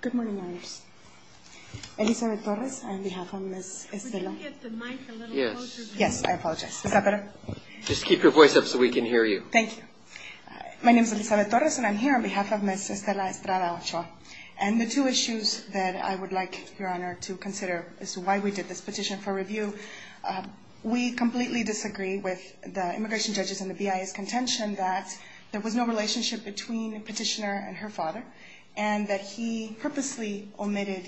Good morning, Your Honors. Elizabeth Torres, on behalf of Ms. Estrada-Ochoa. Could you get the mic a little closer to you? Yes, I apologize. Is that better? Just keep your voice up so we can hear you. Thank you. My name is Elizabeth Torres, and I'm here on behalf of Ms. Estrada-Ochoa. And the two issues that I would like, Your Honor, to consider as to why we did this petition for review, we completely disagree with the immigration judges and the BIA's contention that there was no relationship between the petitioner and her father, and that he purposely omitted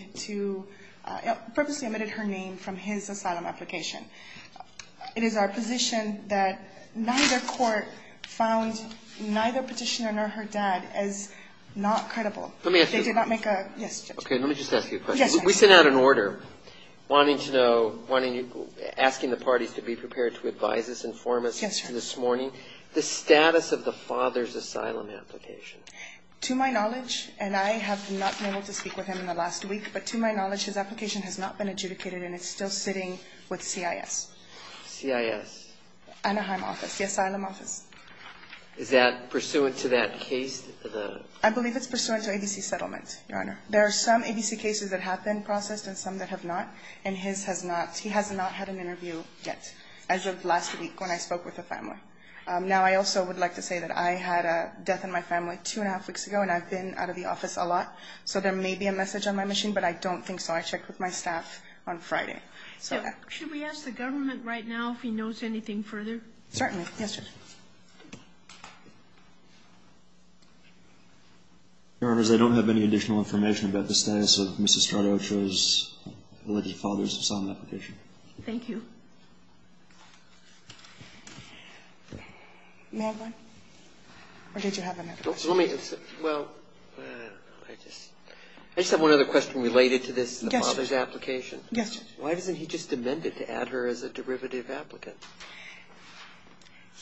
her name from his asylum application. It is our position that neither court found neither petitioner nor her dad as not credible. Let me ask you a question. Yes, Judge. Okay, let me just ask you a question. Yes, Your Honor. We sent out an order asking the parties to be prepared to advise us, inform us this morning, the status of the father's asylum application. To my knowledge, and I have not been able to speak with him in the last week, but to my knowledge, his application has not been adjudicated, and it's still sitting with CIS. CIS? Anaheim office, the asylum office. Is that pursuant to that case? I believe it's pursuant to ABC settlement, Your Honor. There are some ABC cases that have been processed and some that have not, and his has not. He has not had an interview yet as of last week when I spoke with the family. Now, I also would like to say that I had a death in my family two-and-a-half weeks ago, and I've been out of the office a lot, so there may be a message on my machine, but I don't think so. I checked with my staff on Friday. Should we ask the government right now if he knows anything further? Certainly. Yes, Judge. Your Honors, I don't have any additional information about the status of Mrs. Stradocho's alleged father's asylum application. Thank you. May I have one? Or did you have another question? Well, I don't know. I just have one other question related to this father's application. Yes, Judge. Why doesn't he just amend it to add her as a derivative applicant?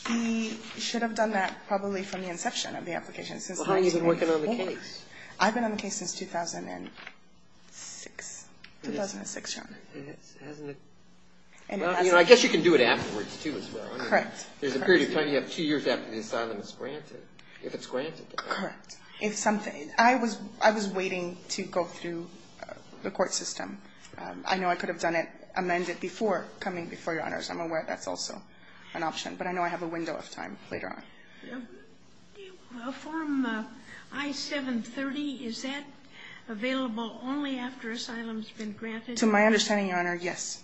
He should have done that probably from the inception of the application. Well, how long have you been working on the case? I've been on the case since 2006. 2006, Your Honor. Well, I guess you can do it afterwards, too, as well. Correct. There's a period of time you have two years after the asylum is granted, if it's granted. Correct. I was waiting to go through the court system. I know I could have done it, amended it, before coming before Your Honors. I'm aware that's also an option, but I know I have a window of time later on. Form I-730, is that available only after asylum has been granted? To my understanding, Your Honor, yes.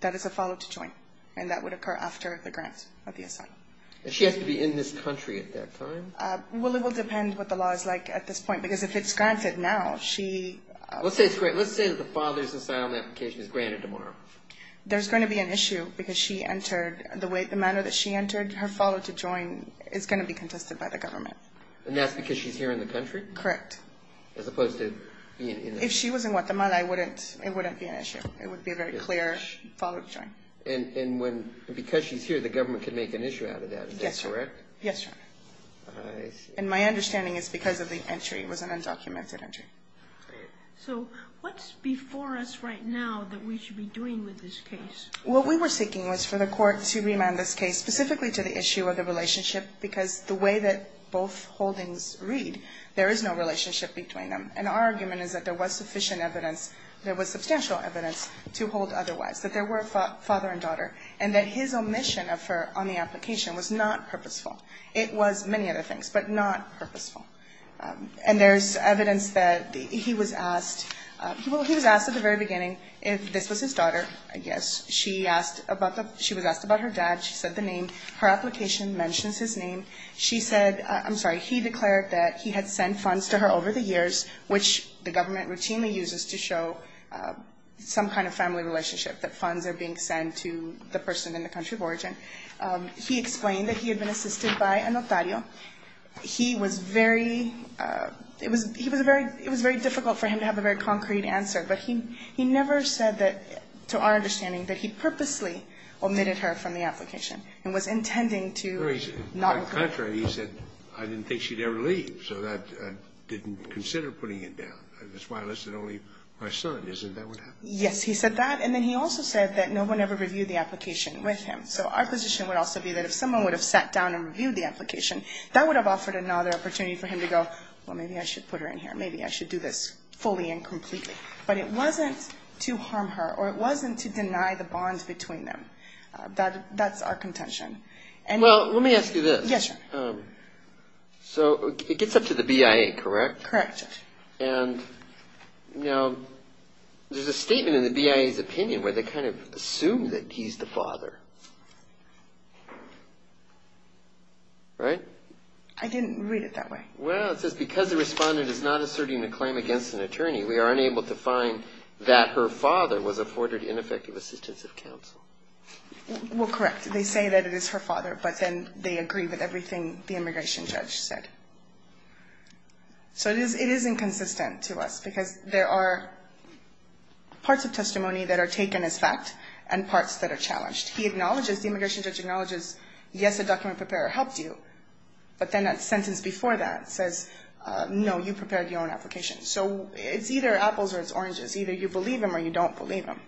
That is a follow-to-join, and that would occur after the grant of the asylum. And she has to be in this country at that time? Well, it will depend what the law is like at this point. Because if it's granted now, she – Let's say it's granted. Let's say that the father's asylum application is granted tomorrow. There's going to be an issue because she entered – the manner that she entered, her follow-to-join is going to be contested by the government. Correct. As opposed to being in – If she was in Guatemala, I wouldn't – it wouldn't be an issue. It would be a very clear follow-to-join. And when – because she's here, the government can make an issue out of that. Is that correct? Yes, Your Honor. I see. And my understanding is because of the entry. It was an undocumented entry. So what's before us right now that we should be doing with this case? What we were seeking was for the court to remand this case specifically to the issue of the relationship because the way that both holdings read, there is no relationship between them. And our argument is that there was sufficient evidence – there was substantial evidence to hold otherwise, that there were father and daughter, and that his omission of her on the application was not purposeful. It was many other things, but not purposeful. And there's evidence that he was asked – he was asked at the very beginning if this was his daughter, I guess. She asked about the – she was asked about her dad. She said the name. Her application mentions his name. She said – I'm sorry. He declared that he had sent funds to her over the years, which the government routinely uses to show some kind of family relationship, that funds are being sent to the person in the country of origin. He explained that he had been assisted by a notario. He was very – it was very difficult for him to have a very concrete answer, but he never said that, to our understanding, that he purposely omitted her from the application and was intending to not – On the contrary, he said, I didn't think she'd ever leave, so I didn't consider putting it down. That's why I listed only my son. Isn't that what happened? Yes, he said that. And then he also said that no one ever reviewed the application with him. So our position would also be that if someone would have sat down and reviewed the application, that would have offered another opportunity for him to go, well, maybe I should put her in here. Maybe I should do this fully and completely. But it wasn't to harm her, or it wasn't to deny the bond between them. That's our contention. Well, let me ask you this. Yes, sir. So it gets up to the BIA, correct? Correct, sir. And now there's a statement in the BIA's opinion where they kind of assume that he's the father, right? I didn't read it that way. Well, it says because the respondent is not asserting a claim against an attorney, we are unable to find that her father was afforded ineffective assistance of counsel. Well, correct. They say that it is her father, but then they agree with everything the immigration judge said. So it is inconsistent to us because there are parts of testimony that are taken as fact and parts that are challenged. He acknowledges, the immigration judge acknowledges, yes, a document preparer helped you, but then that sentence before that says, no, you prepared your own application. So it's either apples or it's oranges. Either you believe him or you don't believe him.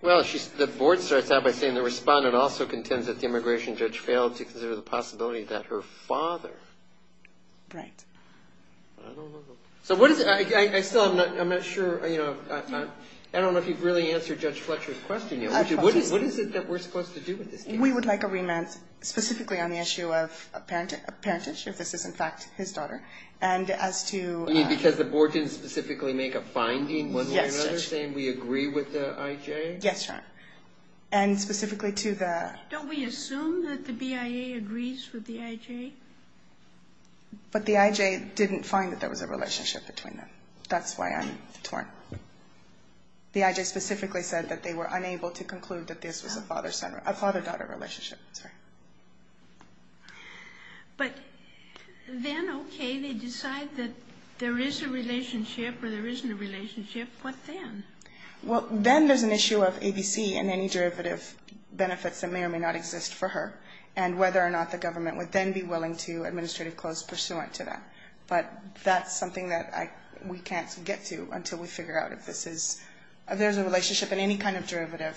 Well, the board starts out by saying the respondent also contends that the immigration judge failed to consider the possibility that her father. Right. I don't know. So what is it? I still am not sure, you know, I don't know if you've really answered Judge Fletcher's question yet. What is it that we're supposed to do with this case? We would like a remand specifically on the issue of a parentage, if this is in fact his daughter, and as to ---- You mean because the board didn't specifically make a finding one way or another by saying we agree with the I.J.? Yes, sir. And specifically to the ---- Don't we assume that the BIA agrees with the I.J.? But the I.J. didn't find that there was a relationship between them. That's why I'm torn. The I.J. specifically said that they were unable to conclude that this was a father-daughter relationship. But then, okay, they decide that there is a relationship or there isn't a relationship. What then? Well, then there's an issue of ABC and any derivative benefits that may or may not exist for her, and whether or not the government would then be willing to administrative clause pursuant to that. But that's something that we can't get to until we figure out if there's a relationship and any kind of derivative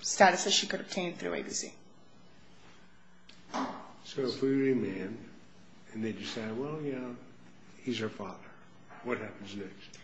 status that she could obtain through ABC. So if we remand and they decide, well, you know, he's her father, what happens next?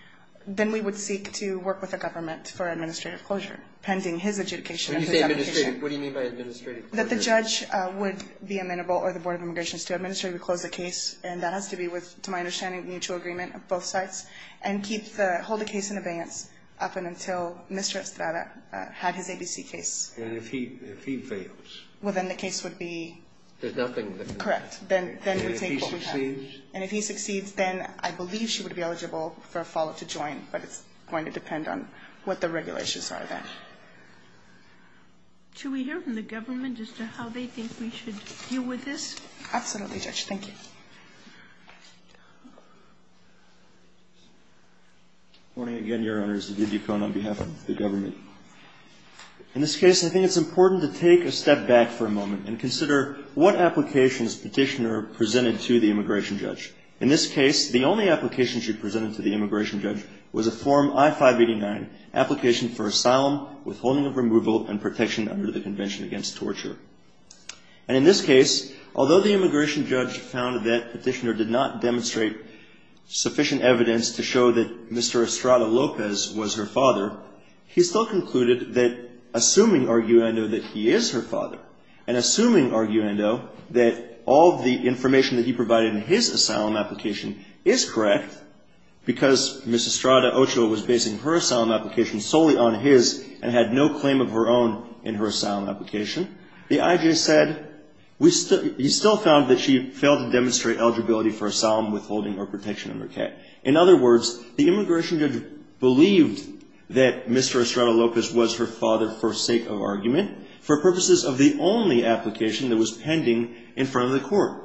Then we would seek to work with the government for administrative closure pending his adjudication. When you say administrative, what do you mean by administrative closure? That the judge would be amenable or the Board of Immigrations to administratively close the case, and that has to be with, to my understanding, mutual agreement of both sides, and keep the, hold the case in abeyance up until Mr. Estrada had his ABC case. And if he fails? Well, then the case would be... There's nothing that... Correct. And if he succeeds? And if he succeeds, then I believe she would be eligible for a follow-up to join, but it's going to depend on what the regulations are then. Should we hear from the government as to how they think we should deal with this? Absolutely, Judge. Thank you. Good morning again, Your Honors. David Ducon on behalf of the government. In this case, I think it's important to take a step back for a moment and consider what applications Petitioner presented to the immigration judge. In this case, the only application she presented to the immigration judge was a Form I-589, application for asylum, withholding of removal, and protection under the Convention Against Torture. And in this case, although the immigration judge found that the immigration judge found that Petitioner did not demonstrate sufficient evidence to show that Mr. Estrada Lopez was her father, he still concluded that assuming arguendo that he is her father, and assuming arguendo that all the information that he provided in his asylum application is correct, because Ms. Estrada Ochoa was basing her asylum application solely on his and had no claim of her own in her asylum application, the IJ said he still found that she failed to demonstrate eligibility for asylum, withholding, or protection under CAC. In other words, the immigration judge believed that Mr. Estrada Lopez was her father for sake of argument, for purposes of the only application that was pending in front of the court.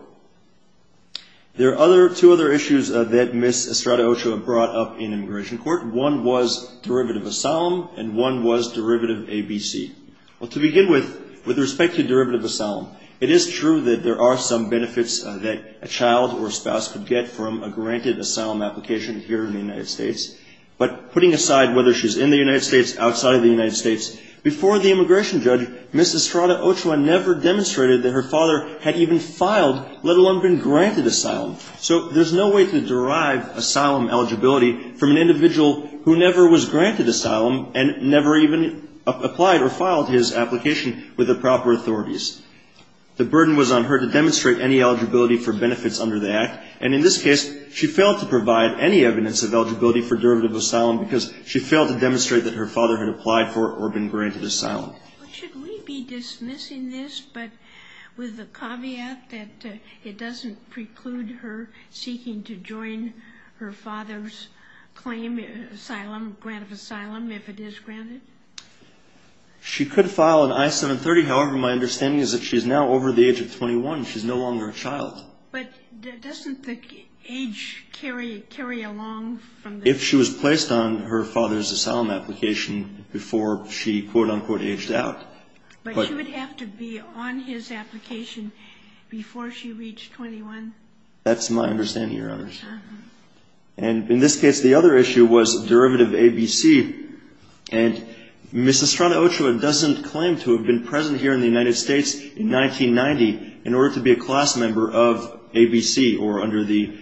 There are two other issues that Ms. Estrada Ochoa brought up in immigration court. One was derivative asylum, and one was derivative ABC. Well, to begin with, with respect to derivative asylum, it is true that there are some benefits that a child or a spouse could get from a granted asylum application here in the United States. But putting aside whether she's in the United States, outside of the United States, before the immigration judge, Ms. Estrada Ochoa never demonstrated that her father had even filed, let alone been granted asylum. So there's no way to derive asylum eligibility from an individual who never was granted asylum and never even applied or filed his application with the proper authorities. The burden was on her to demonstrate any eligibility for benefits under the Act, and in this case she failed to provide any evidence of eligibility for derivative asylum because she failed to demonstrate that her father had applied for or been granted asylum. Should we be dismissing this, but with the caveat that it doesn't preclude her seeking to join her father's claim, asylum, grant of asylum, if it is granted? She could file an I-730. However, my understanding is that she's now over the age of 21. She's no longer a child. But doesn't the age carry along from the child? If she was placed on her father's asylum application before she, quote, unquote, aged out. But she would have to be on his application before she reached 21? That's my understanding, Your Honor. And in this case, the other issue was derivative ABC. And Ms. Estrada-Ochoa doesn't claim to have been present here in the United States in 1990 in order to be a class member of ABC or under the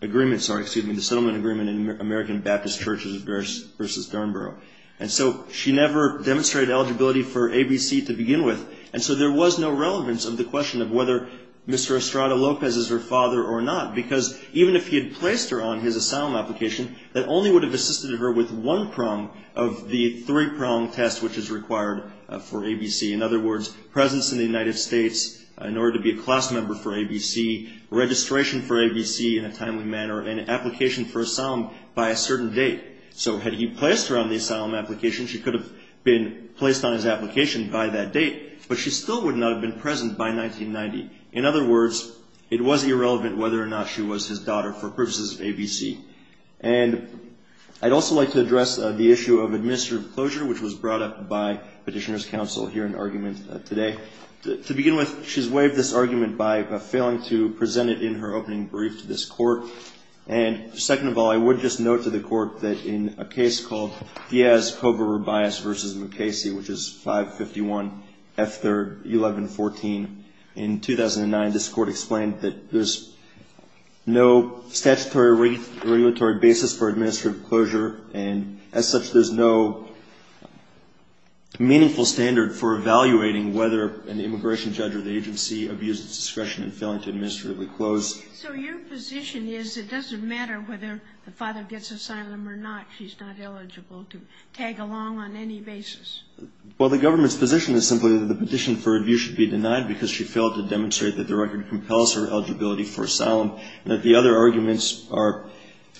agreement, sorry, excuse me, the settlement agreement in American Baptist Churches versus Thornborough. And so she never demonstrated eligibility for ABC to begin with. And so there was no relevance of the question of whether Mr. Estrada-Lopez is her father or not. Because even if he had placed her on his asylum application, that only would have assisted her with one prong of the three-prong test which is required for ABC. In other words, presence in the United States in order to be a class member for ABC, registration for ABC in a timely manner, and application for asylum by a certain date. So had he placed her on the asylum application, she could have been placed on his application by that date. But she still would not have been present by 1990. In other words, it was irrelevant whether or not she was his daughter for purposes of ABC. And I'd also like to address the issue of administrative closure, which was brought up by Petitioner's Counsel here in argument today. To begin with, she's waived this argument by failing to present it in her opening brief to this court. And second of all, I would just note to the court that in a case called Diaz-Cobar-Rubias v. Mukasey, which is 551 F. 3rd, 1114, in 2009, this court explained that there's no statutory or regulatory basis for administrative closure, and as such, there's no meaningful standard for evaluating whether an immigration judge or the agency abused its discretion in failing to administratively close. So your position is it doesn't matter whether the father gets asylum or not. She's not eligible to tag along on any basis. Well, the government's position is simply that the petition for review should be denied because she failed to demonstrate that the record compels her eligibility for asylum. And that the other arguments are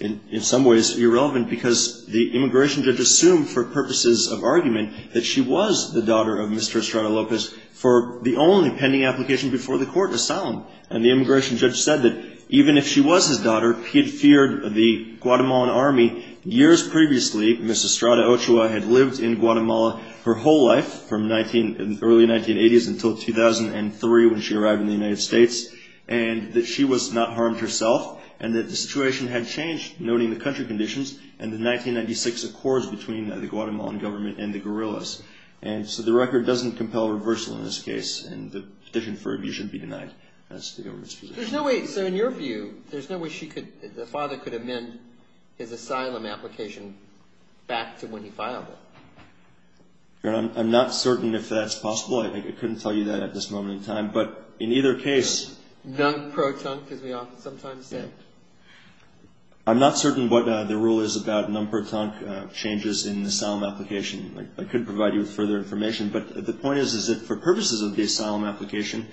in some ways irrelevant because the immigration judge assumed for purposes of argument that she was the daughter of Mr. Estrada Lopez for the only pending application before the court, asylum. And the immigration judge said that even if she was his daughter, he feared the Guatemalan army years previously, Ms. Estrada Ochoa, had lived in Guatemala her whole life from early 1980s until 2003 when she arrived in the United States, and that she was not harmed herself, and that the situation had changed, noting the country conditions and the 1996 accords between the Guatemalan government and the guerrillas. And so the record doesn't compel reversal in this case, and the petition for review should be denied. That's the government's position. There's no way, sir, in your view, there's no way she could, the father could amend his asylum application back to when he filed it. I'm not certain if that's possible. I think I couldn't tell you that at this moment in time. But in either case. Non-pro-tunk, as we often sometimes say. I'm not certain what the rule is about non-pro-tunk changes in the asylum application. I couldn't provide you with further information. But the point is, is that for purposes of the asylum application,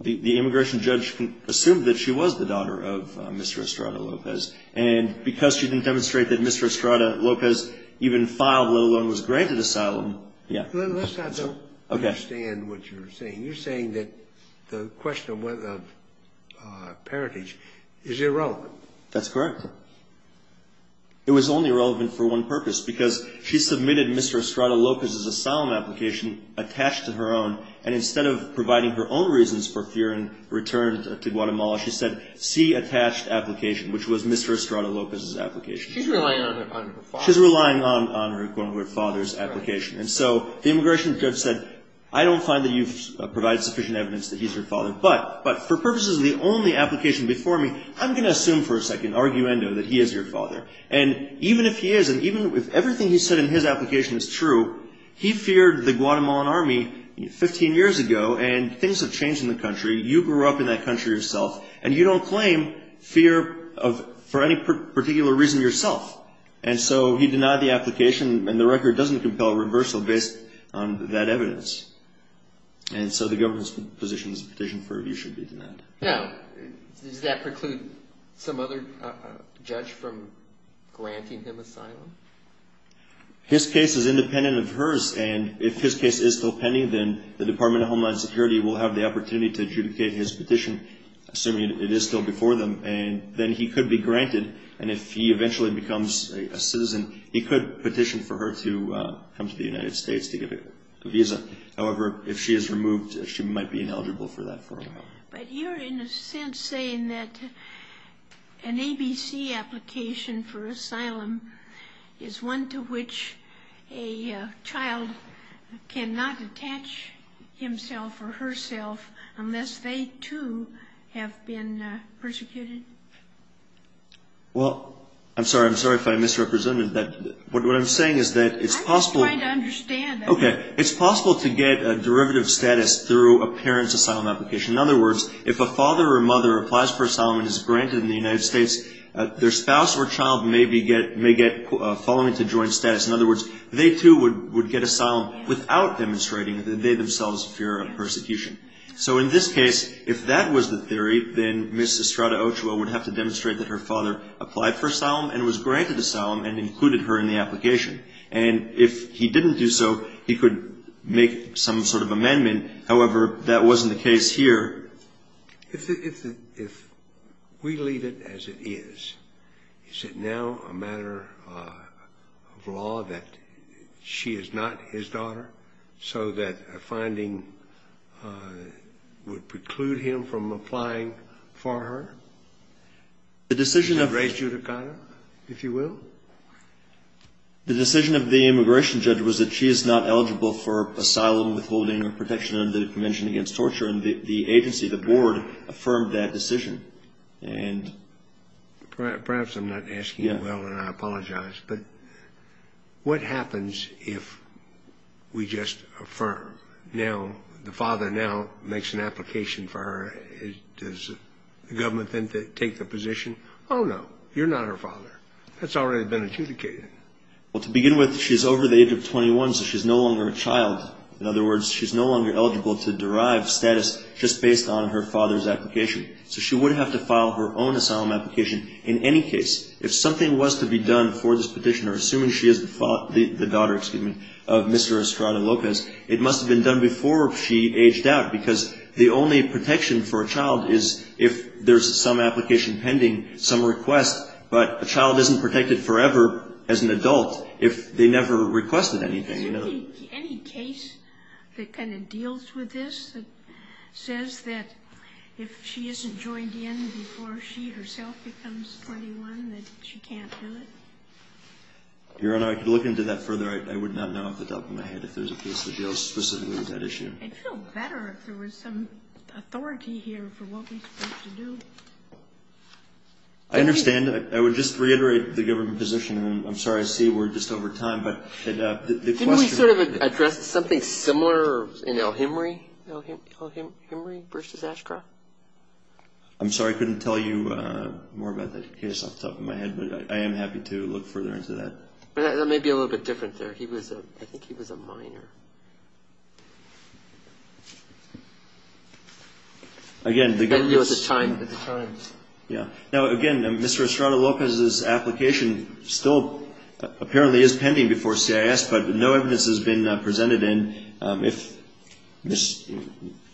the immigration judge assumed that she was the daughter of Mr. Estrada Lopez. And because she didn't demonstrate that Mr. Estrada Lopez even filed, let alone was granted asylum. Let's not understand what you're saying. You're saying that the question of parentage is irrelevant. That's correct. It was only relevant for one purpose, because she submitted Mr. Estrada Lopez's asylum application attached to her own, and instead of providing her own reasons for fear and return to Guatemala, she said, see attached application, which was Mr. Estrada Lopez's application. She's relying on her father. She's relying on her, quote-unquote, father's application. And so the immigration judge said, I don't find that you've provided sufficient evidence that he's your father. But for purposes of the only application before me, I'm going to assume for a second, arguendo, that he is your father. And even if he is, and even if everything he said in his application is true, he feared the Guatemalan Army 15 years ago, and things have changed in the country. You grew up in that country yourself, and you don't claim fear for any particular reason yourself. And so he denied the application, and the record doesn't compel reversal based on that evidence. And so the government's position is a petition for review should be denied. Now, does that preclude some other judge from granting him asylum? His case is independent of hers, and if his case is still pending, then the Department of Homeland Security will have the opportunity to adjudicate his petition, assuming it is still before them, and then he could be granted. And if he eventually becomes a citizen, he could petition for her to come to the United States to get a visa. However, if she is removed, she might be ineligible for that for a while. But you're in a sense saying that an ABC application for asylum is one to which a child cannot attach himself or herself unless they, too, have been persecuted? Well, I'm sorry. I'm sorry if I misrepresented that. What I'm saying is that it's possible. I'm just trying to understand. Okay. It's possible to get a derivative status through a parent's asylum application. In other words, if a father or mother applies for asylum and is granted in the United States, their spouse or child may get following to joint status. In other words, they, too, would get asylum without demonstrating that they themselves fear persecution. So in this case, if that was the theory, then Ms. Estrada Ochoa would have to demonstrate that her father applied for asylum and was granted asylum and included her in the application. And if he didn't do so, he could make some sort of amendment. However, that wasn't the case here. If we leave it as it is, is it now a matter of law that she is not his daughter, so that a finding would preclude him from applying for her? The decision of... The decision of the immigration judge was that she is not eligible for asylum, withholding, or protection under the Convention Against Torture, and the agency, the board, affirmed that decision. Perhaps I'm not asking you well, and I apologize, but what happens if we just affirm? Now, the father now makes an application for her. Does the government then take the position? Oh, no, you're not her father. That's already been adjudicated. Well, to begin with, she's over the age of 21, so she's no longer a child. In other words, she's no longer eligible to derive status just based on her father's application. So she would have to file her own asylum application in any case. If something was to be done for this petitioner, assuming she is the daughter, excuse me, of Mr. Estrada Lopez, it must have been done before she aged out, because the only protection for a child is if there's some application pending, some request, but a child isn't protected forever as an adult if they never requested anything. Is there any case that kind of deals with this that says that if she isn't joined in before she herself becomes 21 that she can't do it? Your Honor, I could look into that further. I would not know off the top of my head if there's a case for jail specifically with that issue. I'd feel better if there was some authority here for what we're supposed to do. I understand. I would just reiterate the government position. I'm sorry. I see we're just over time. Didn't we sort of address something similar in El Himry versus Ashcroft? I'm sorry. I couldn't tell you more about that case off the top of my head, but I am happy to look further into that. That may be a little bit different there. I think he was a minor. Again, Mr. Estrada-Lopez's application still apparently is pending before CIS, but no evidence has been presented in. I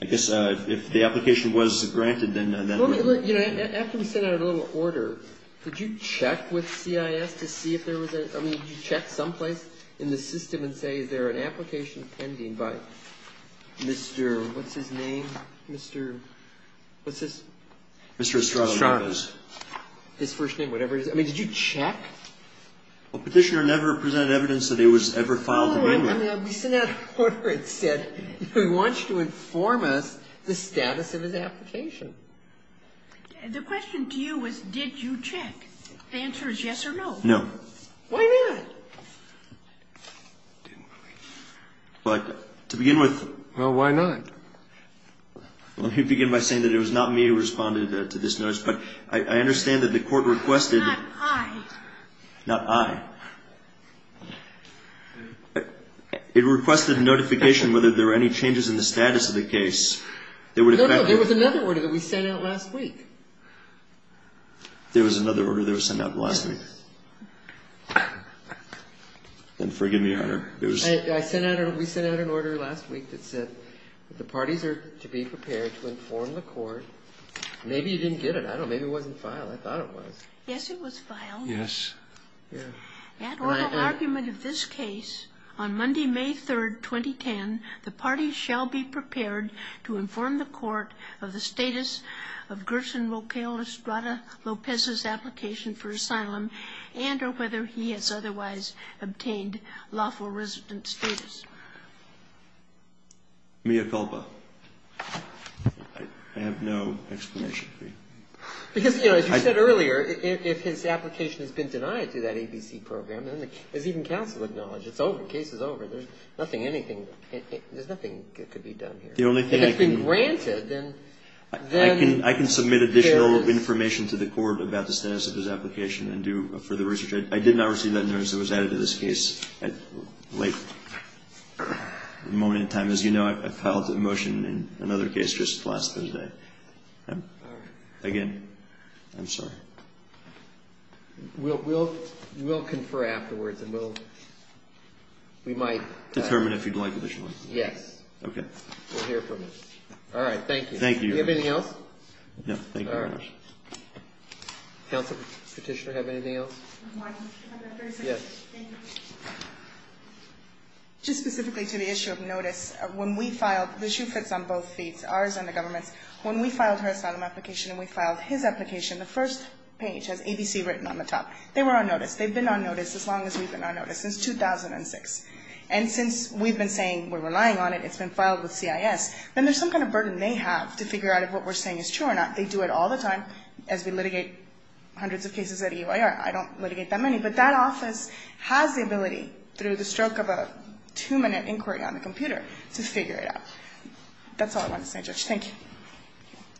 guess if the application was granted, then we're good. After we sent out a little order, did you check with CIS to see if there was a – I mean, did you check someplace in the system and say is there an application pending by Mr. – what's his name? Mr. – what's his – Mr. Estrada-Lopez. His first name, whatever it is. I mean, did you check? Well, Petitioner never presented evidence that it was ever filed. No, I mean, we sent out an order that said we want you to inform us the status of his application. The question to you was did you check? The answer is yes or no. No. Why not? But to begin with – Well, why not? Let me begin by saying that it was not me who responded to this notice, but I understand that the court requested – Not I. Not I. It requested a notification whether there were any changes in the status of the case that would affect – No, no. There was another order that we sent out last week. There was another order that was sent out last week? Yes. Then forgive me, Your Honor. I sent out – we sent out an order last week that said that the parties are to be prepared to inform the court. Maybe you didn't get it. I don't know. Maybe it wasn't filed. I thought it was. Yes, it was filed. Yes. Yeah. At oral argument of this case on Monday, May 3, 2010, the parties shall be prepared to inform the court of the status of Gerson Locale Estrada Lopez's application for asylum and or whether he has otherwise obtained lawful resident status. Mia Culpa. I have no explanation for you. Because, you know, as you said earlier, if his application has been denied through that ABC program, as even counsel acknowledged, it's over. The case is over. There's nothing, anything – there's nothing that could be done here. The only thing – If it's been granted, then – I can submit additional information to the court about the status of his application and do further research. I did not receive that notice. It was added to this case at a late moment in time. As you know, I filed a motion in another case just last Thursday. All right. Again, I'm sorry. We'll confer afterwards and we'll – we might – Determine if you'd like additional information. Yes. Okay. We'll hear from you. All right. Thank you. Thank you. Do you have anything else? Thank you very much. All right. Counsel, petitioner, have anything else? Yes. Thank you. Just specifically to the issue of notice, when we filed – the issue fits on both feet, ours and the government's. When we filed her asylum application and we filed his application, the first page has ABC written on the top. They were on notice. They've been on notice as long as we've been on notice, since 2006. And since we've been saying we're relying on it, it's been filed with CIS, then there's some kind of burden they have to figure out if what we're saying is true or not. They do it all the time as we litigate hundreds of cases at EYR. I don't litigate that many. But that office has the ability, through the stroke of a two-minute inquiry on the computer, to figure it out. That's all I wanted to say, Judge. Thank you.